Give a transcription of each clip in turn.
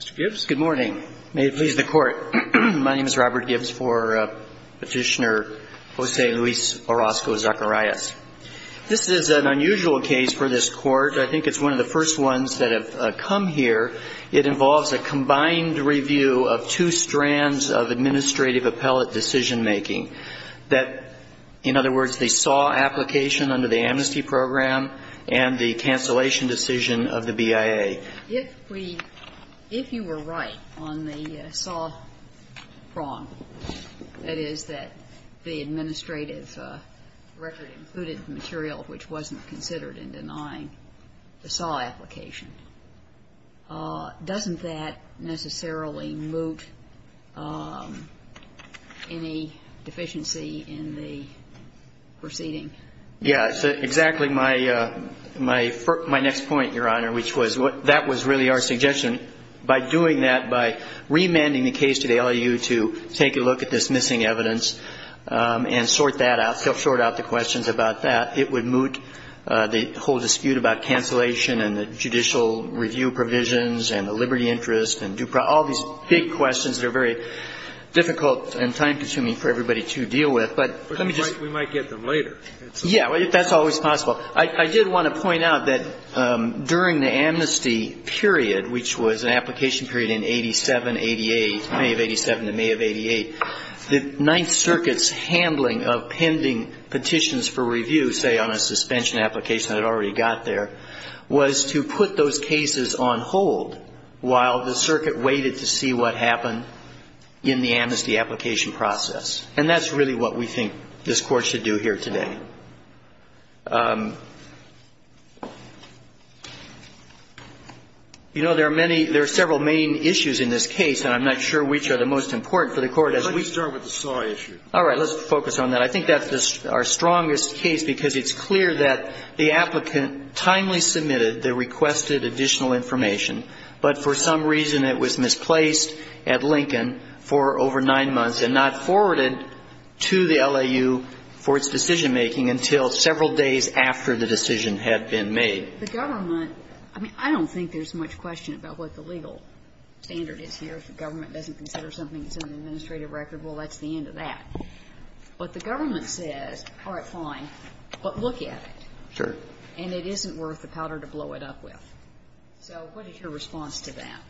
Mr. Gibbs, good morning. May it please the Court. My name is Robert Gibbs for Petitioner Jose Luis Orozco-Zacarias. This is an unusual case for this Court. I think it's one of the first ones that have come here. It involves a combined review of two strands of administrative appellate decision making. That, in other words, they saw application under the amnesty program and the amnesty program. And I would like to ask you, Mr. Gibbs, what do you make of that? If we, if you were right on the SAW prong, that is, that the administrative record included material which wasn't considered in denying the SAW application, doesn't that necessarily moot any dispute? I mean, that was really our suggestion. By doing that, by remanding the case to the LEU to take a look at this missing evidence and sort that out, sort out the questions about that, it would moot the whole dispute about cancellation and the judicial review provisions and the liberty interest and due process, all these big questions that are very difficult and time-consuming for everybody to deal with. But we might get them later. Yeah, that's always possible. I did want to point out that during the amnesty period, which was an application period in 87, 88, May of 87 to May of 88, the Ninth Circuit's handling of pending petitions for review, say, on a suspension application that had already got there, was to put those cases on hold while the Circuit waited to see what happened in the amnesty application process. And that's really what we think this Court should do here today. You know, there are many, there are several main issues in this case, and I'm not sure which are the most important for the Court. Let's start with the SAW issue. All right. Let's focus on that. I think that's our strongest case because it's clear that the applicant timely submitted the requested additional information, but for some reason it was misplaced at Lincoln for over nine months and not forwarded to the LAU for its decision-making until several days after the decision had been made. The government, I mean, I don't think there's much question about what the legal standard is here. If the government doesn't consider something that's in the administrative record, well, that's the end of that. But the government says, all right, fine, but look at it. Sure. And it isn't worth the powder to blow it up with. So what is your response to that?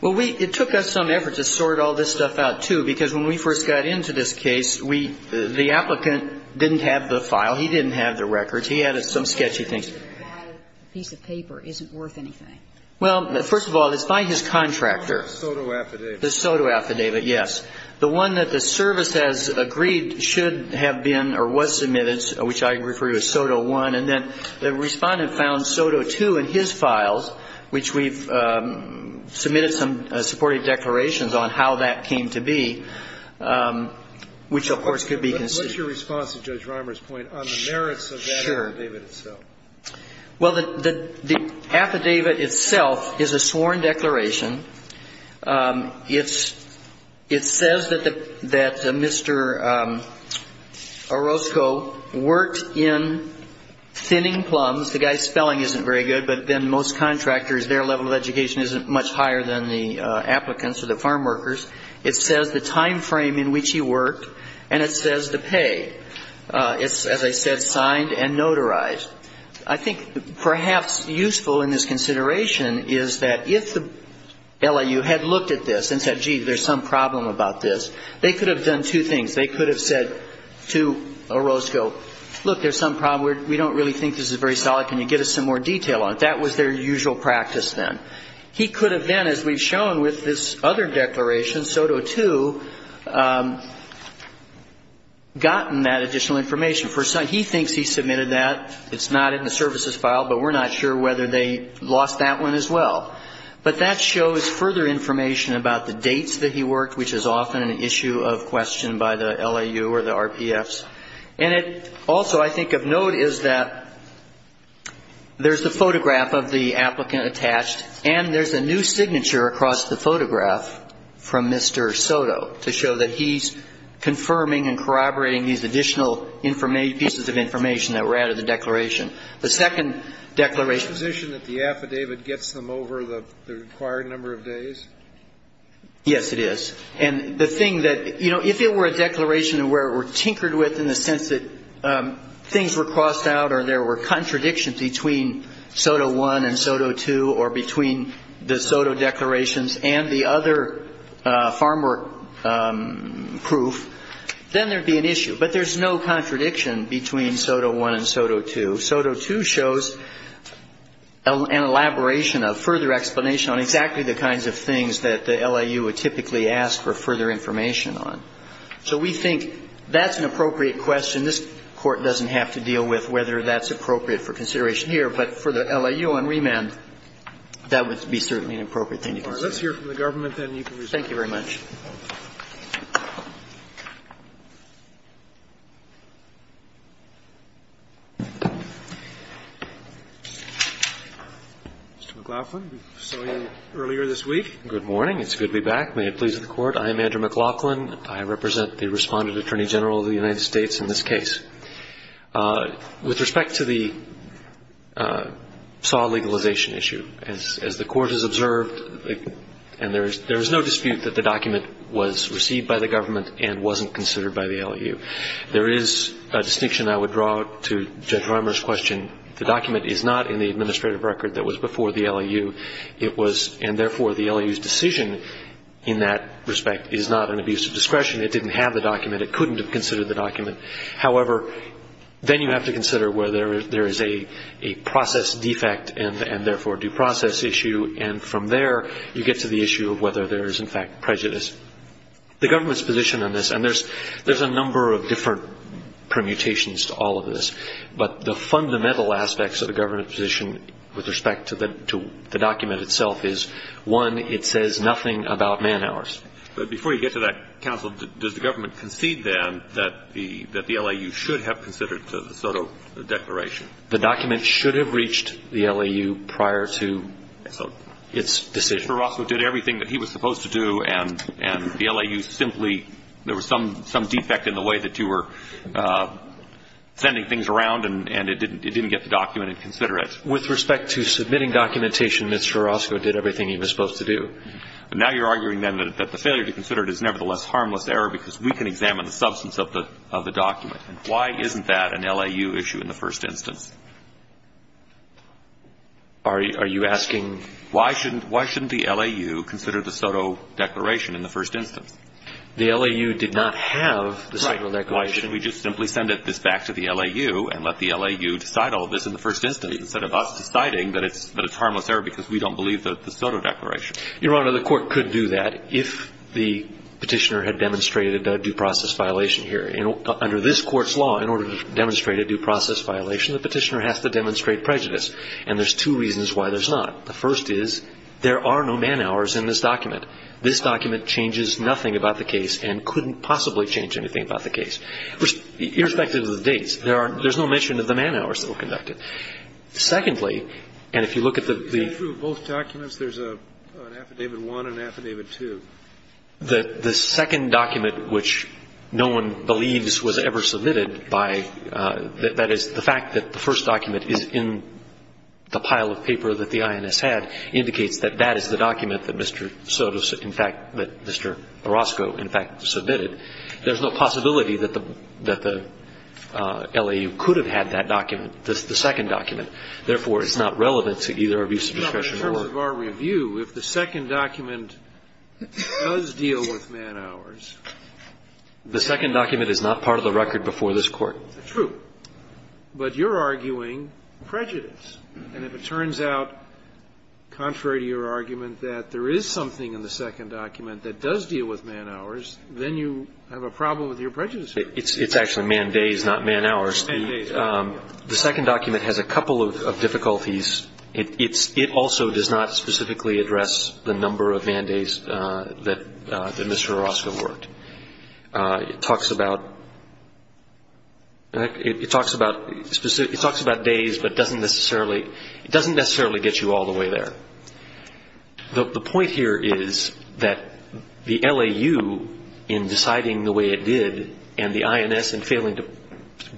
Well, we, it took us some effort to sort all this stuff out, too, because when we first got into this case, we, the applicant didn't have the file. He didn't have the records. He had some sketchy things. A piece of paper isn't worth anything. Well, first of all, it's by his contractor. SOTO affidavit. The SOTO affidavit, yes. The one that the service has agreed should have been or was submitted, which I refer to as SOTO I, and then the Respondent found SOTO II in his files, which we've, submitted some supportive declarations on how that came to be, which, of course, could be conceded. But what's your response to Judge Reimer's point on the merits of that affidavit itself? Sure. Well, the affidavit itself is a sworn declaration. It's, it says that Mr. Orozco worked in thinning plums. The guy's spelling isn't very good, but then most contractors, their level of education isn't much higher than the applicants or the farm workers. It says the time frame in which he worked, and it says the pay. It's, as I said, signed and notarized. I think perhaps useful in this consideration is that if the LIU had looked at this and said, gee, there's some problem about this, they could have done two things. They could have said to Orozco, look, there's some problem. We don't really think this is very solid. Can you get us some more detail on it? That was their usual practice then. He could have then, as we've shown with this other declaration, SOTO II, gotten that additional information. He thinks he submitted that. It's not in the services file, but we're not sure whether they lost that one as well. But that shows further information about the dates that he worked, which is often an issue of question by the LIU or the RPFs. And it also, I think, of note is that there's a photograph of the applicant attached, and there's a new signature across the photograph from Mr. SOTO to show that he's confirming and corroborating these additional pieces of information that were added to the declaration. The second declaration that the affidavit gets them over the required number of days? Yes, it is. And the thing that, you know, if it were a declaration where it were tinkered with in the sense that things were crossed out or there were contradictions between SOTO I and SOTO II or between the SOTO declarations and the other farm work proof, then there would be an issue. But there's no contradiction between SOTO I and SOTO II. SOTO II shows an elaboration, a further explanation on exactly the kinds of things that the LIU would typically ask for further information on. So we think that's an appropriate question. This Court doesn't have to deal with whether that's appropriate for consideration here. But for the LIU on remand, that would be certainly an appropriate thing to consider. All right. Let's hear from the government, then. Thank you very much. Mr. McLaughlin, we saw you earlier this week. Good morning. It's good to be back. May it please the Court. I am Andrew McLaughlin. I represent the Respondent Attorney General of the United States in this case. With respect to the SAW legalization issue, as the Court has observed, and there's no dispute that the document was received by the government and wasn't considered by the LIU. There is a distinction I would draw to Judge Rimer's question. The document is not in the administrative record that was before the LIU. It was, and therefore the LIU's decision in that respect is not an abuse of discretion. It didn't have the document. It couldn't have considered the document. However, then you have to consider whether there is a process defect and therefore due process issue. And from there, you get to the issue of whether there is in fact prejudice. The government's position on this, and there's a number of different permutations to all of this, but the fundamental aspects of the government's position with respect to the document itself is, one, it says nothing about man hours. But before you get to that, Counsel, does the government concede, then, that the LIU should have considered the SOTO declaration? The document should have reached the LIU prior to its decision. Mr. Orozco did everything that he was supposed to do, and the LIU simply, there was some defect in the way that you were sending things around, and it didn't get the document and consider it. With respect to submitting documentation, Mr. Orozco did everything he was supposed to do. But now you're arguing, then, that the failure to consider it is nevertheless harmless error because we can examine the substance of the document. Why isn't that an LIU issue in the first instance? Are you asking? Why shouldn't the LIU consider the SOTO declaration in the first instance? The LIU did not have the SOTO declaration. Right. Why shouldn't we just simply send this back to the LIU and let the LIU decide all of this in the first instance instead of us deciding that it's harmless error because we don't believe the SOTO declaration? Your Honor, the Court could do that if the Petitioner had demonstrated a due process violation here. Under this Court's law, in order to demonstrate a due process violation, the Petitioner has to demonstrate prejudice. And there's two reasons why there's not. The first is there are no man hours in this document. This document changes nothing about the case and couldn't possibly change anything about the case, irrespective of the dates. There's no mention of the man hours that were conducted. Secondly, and if you look at the the... Through both documents, there's an Affidavit 1 and Affidavit 2. The second document, which no one believes was ever submitted by, that is, the fact that the first document is in the pile of paper that the INS had, indicates that that is the document that Mr. SOTO, in fact, that Mr. Orozco, in fact, submitted. There's no possibility that the LIU could have had that document. That's the second document. Therefore, it's not relevant to either abuse of discretion or... No. In terms of our review, if the second document does deal with man hours... The second document is not part of the record before this Court. It's true. But you're arguing prejudice. And if it turns out, contrary to your argument, that there is something in the second document that does deal with man hours, then you have a problem with your prejudice argument. It's actually man days, not man hours. Man days. The second document has a couple of difficulties. It also does not specifically address the number of man days that Mr. Orozco worked. It talks about days, but it doesn't necessarily get you all the way there. The point here is that the LIU, in deciding the way it did, and the INS in failing to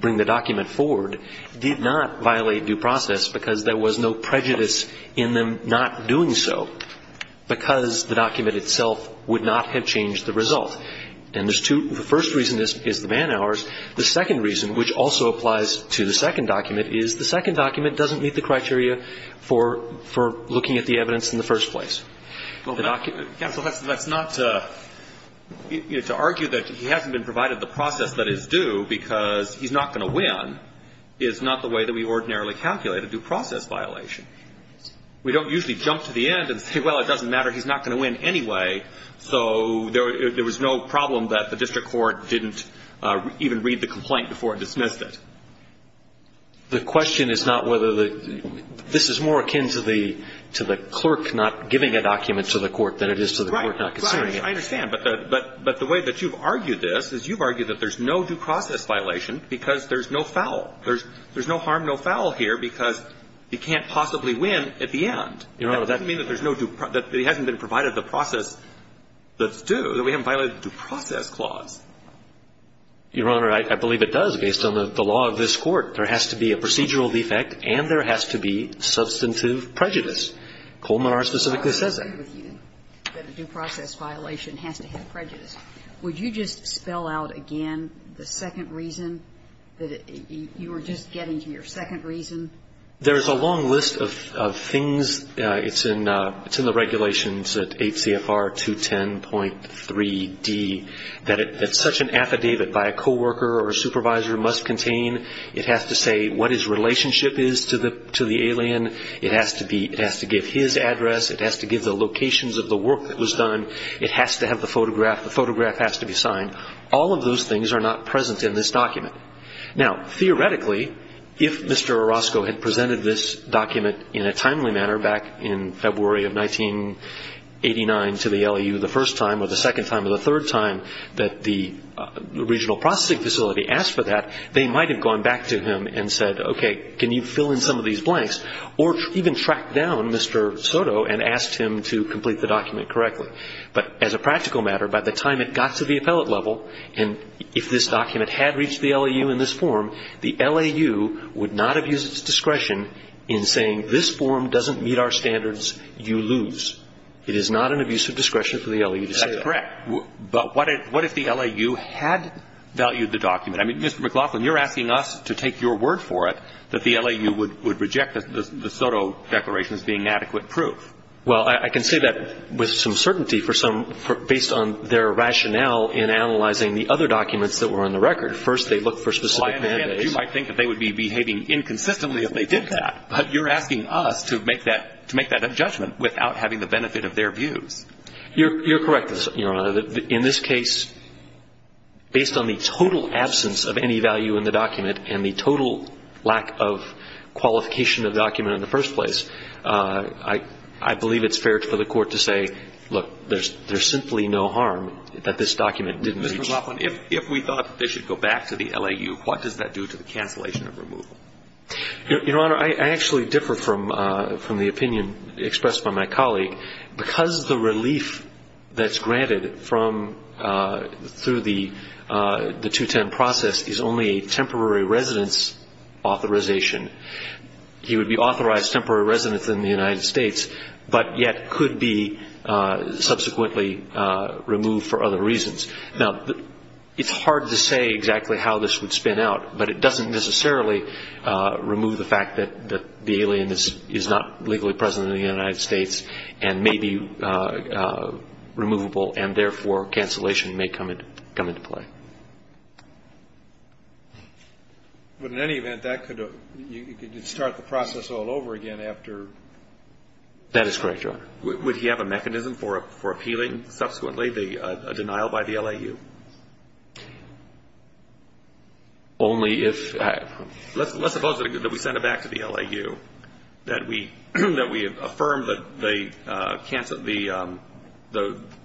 bring the document forward, did not violate due process because there was no prejudice in them not doing so, because the document itself would not have changed the result. And there's two. The first reason is the man hours. The second reason, which also applies to the second document, is the second document doesn't meet the criteria for looking at the evidence in the first place. Well, that's not to argue that he hasn't been provided the process that is due because he's not going to win. It's not the way that we ordinarily calculate a due process violation. We don't usually jump to the end and say, well, it doesn't matter. He's not going to win anyway. So there was no problem that the district court didn't even read the complaint before it dismissed it. The question is not whether the – this is more akin to the clerk not giving a document to the court than it is to the court not considering it. Right, right. I understand. But the way that you've argued this is you've argued that there's no due process violation because there's no foul. There's no harm, no foul here because he can't possibly win at the end. Your Honor, that doesn't mean that there's no due – that he hasn't been provided the process that's due, that we haven't violated the due process clause. Your Honor, I believe it does, based on the law of this Court. There has to be a procedural defect and there has to be substantive prejudice. Coleman R. specifically says that. I agree with you that a due process violation has to have prejudice. Would you just spell out again the second reason, that you were just getting to your second reason? There's a long list of things. It's in the regulations at 8 CFR 210.3d that it's such an affidavit by a coworker or a supervisor must contain. It has to say what his relationship is to the alien. It has to be – it has to give his address. It has to give the locations of the work that was done. It has to have the photograph. The photograph has to be signed. All of those things are not present in this document. Now, theoretically, if Mr. Orozco had presented this document in a timely manner back in February of 1989 to the LEU the first time or the second time or the third time that the regional processing facility asked for that, they might have gone back to him and said, okay, can you fill in some of these blanks? Or even tracked down Mr. Soto and asked him to complete the document correctly. But as a practical matter, by the time it got to the appellate level, and if this document had reached the LEU in this form, the LEU would not have used its discretion in saying, this form doesn't meet our standards, you lose. It is not an abuse of discretion for the LEU to say that. That's correct. But what if the LEU had valued the document? I mean, Mr. McLaughlin, you're asking us to take your word for it that the LEU would reject the Soto declaration as being adequate proof. Well, I can say that with some certainty based on their rationale in analyzing the other documents that were on the record. First, they looked for specific mandates. You might think that they would be behaving inconsistently if they did that. But you're asking us to make that judgment without having the benefit of their views. You're correct, Your Honor. In this case, based on the total absence of any value in the document and the total lack of qualification of the document in the first place, I believe it's fair for the Court to say, look, there's simply no harm that this document didn't reach. Mr. McLaughlin, if we thought they should go back to the LEU, what does that do to the cancellation of removal? Your Honor, I actually differ from the opinion expressed by my colleague. Because the relief that's granted through the 210 process is only a temporary residence authorization, he would be authorized temporary residence in the United States but yet could be subsequently removed for other reasons. Now, it's hard to say exactly how this would spin out, but it doesn't necessarily remove the fact that the alien is not legally present in the United States and may be removable and therefore cancellation may come into play. But in any event, that could start the process all over again after? That is correct, Your Honor. Would he have a mechanism for appealing subsequently a denial by the LEU? Only if ---- Let's suppose that we send it back to the LEU, that we affirm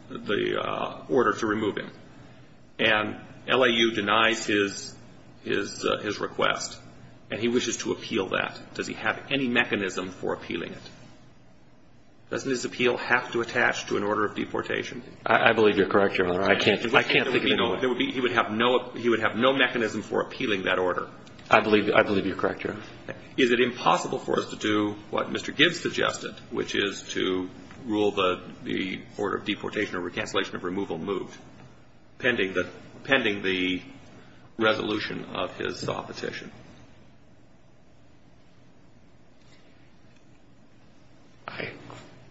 the order to remove him, and LEU denies his request and he wishes to appeal that. Does he have any mechanism for appealing it? Doesn't his appeal have to attach to an order of deportation? I believe you're correct, Your Honor. I can't agree with that. I think he would have no mechanism for appealing that order. I believe you're correct, Your Honor. Is it impossible for us to do what Mr. Gibbs suggested, which is to rule the order of deportation or recancellation of removal moved pending the resolution of his petition?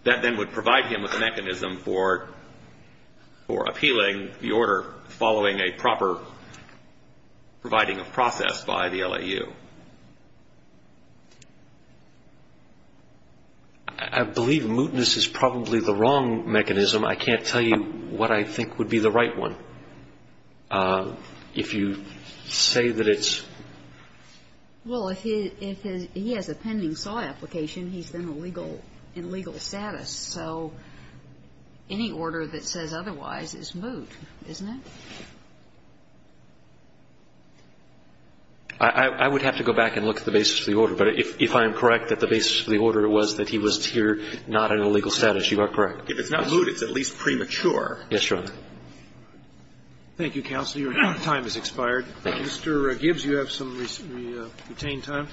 That then would provide him with a mechanism for appealing the order following a proper providing of process by the LEU. I believe mootness is probably the wrong mechanism. I can't tell you what I think would be the right one. If you say that it's ---- Well, if he has a pending SAW application, he's been in legal status. So any order that says otherwise is moot, isn't it? I would have to go back and look at the basis of the order. But if I am correct that the basis of the order was that he was here not in a legal status, you are correct. If it's not moot, it's at least premature. Yes, Your Honor. Thank you, counsel. Your time has expired. Thank you. Mr. Gibbs, you have some retained time.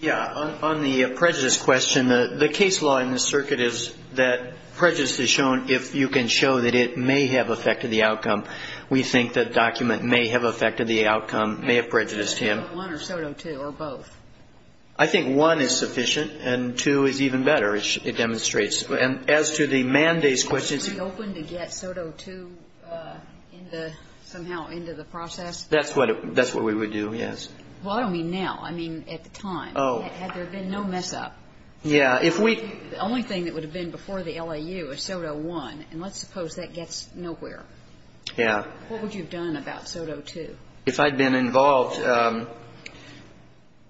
Yeah. On the prejudice question, the case law in this circuit is that prejudice is shown if you can show that it may have affected the outcome. We think the document may have affected the outcome, may have prejudiced him. One or SOTO II or both? I think one is sufficient and two is even better, it demonstrates. As to the mandates question ---- Are you open to get SOTO II somehow into the process? That's what we would do, yes. Well, I don't mean now. I mean at the time. Oh. Had there been no mess-up. Yeah. If we ---- The only thing that would have been before the LAU is SOTO I, and let's suppose that gets nowhere. Yeah. What would you have done about SOTO II? If I had been involved,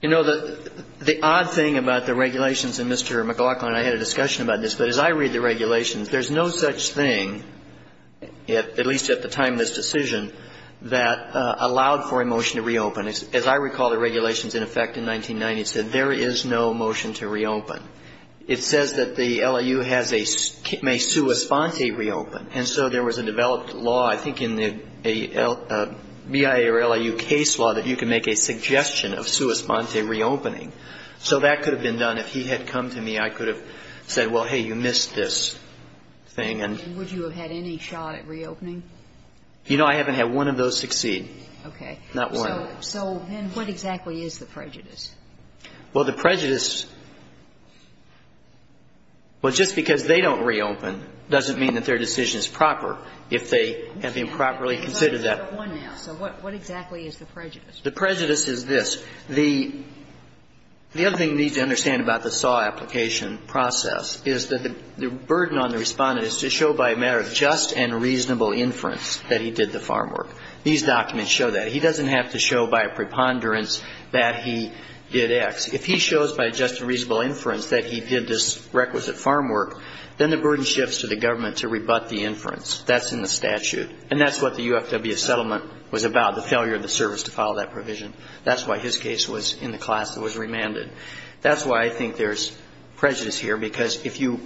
you know, the odd thing about the regulations, and Mr. McLaughlin and I had a discussion about this, but as I read the regulations, there's no such thing, at least at the time of this decision, that allowed for a motion to reopen. As I recall the regulations in effect in 1990, it said there is no motion to reopen. It says that the LAU has a sui sponte reopen, and so there was a developed law, I think in the BIA or LAU case law, that you can make a suggestion of sui sponte reopening. So that could have been done if he had come to me. I could have said, well, hey, you missed this thing, and ---- Would you have had any shot at reopening? You know, I haven't had one of those succeed. Okay. Not one. So then what exactly is the prejudice? Well, the prejudice, well, just because they don't reopen doesn't mean that their decision is proper, if they have been properly considered that. So what exactly is the prejudice? The prejudice is this. The other thing you need to understand about the SAW application process is that the burden on the respondent is to show by a matter of just and reasonable inference that he did the farm work. These documents show that. He doesn't have to show by a preponderance that he did X. If he shows by just and reasonable inference that he did this requisite farm work, then the burden shifts to the government to rebut the inference. That's in the statute, and that's what the UFW settlement was about, the failure of the service to follow that provision. That's why his case was in the class that was remanded. That's why I think there's prejudice here, because if you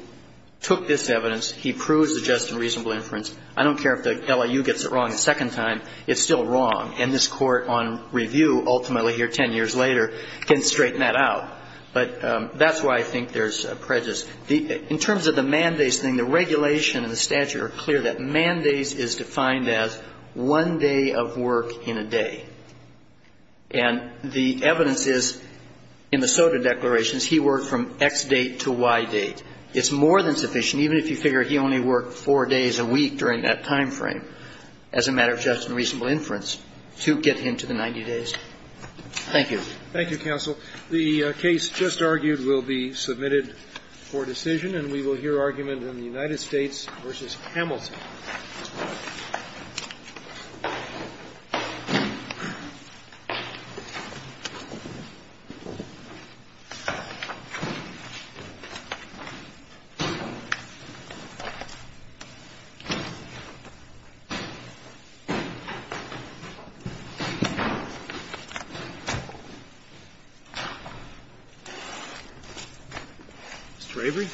took this evidence, he proves the just and reasonable inference, I don't care if the LIU gets it wrong a second time, it's still wrong, and this court on review ultimately here 10 years later can straighten that out. But that's why I think there's prejudice. In terms of the mandates thing, the regulation and the statute are clear that mandates is defined as one day of work in a day. And the evidence is in the SOTA declarations, he worked from X date to Y date. It's more than sufficient, even if you figure he only worked four days a week during that time frame, as a matter of just and reasonable inference, to get him to the 90 days. Thank you. Thank you, counsel. The case just argued will be submitted for decision. And we will hear argument in the United States v. Hamilton. Mr. Avery.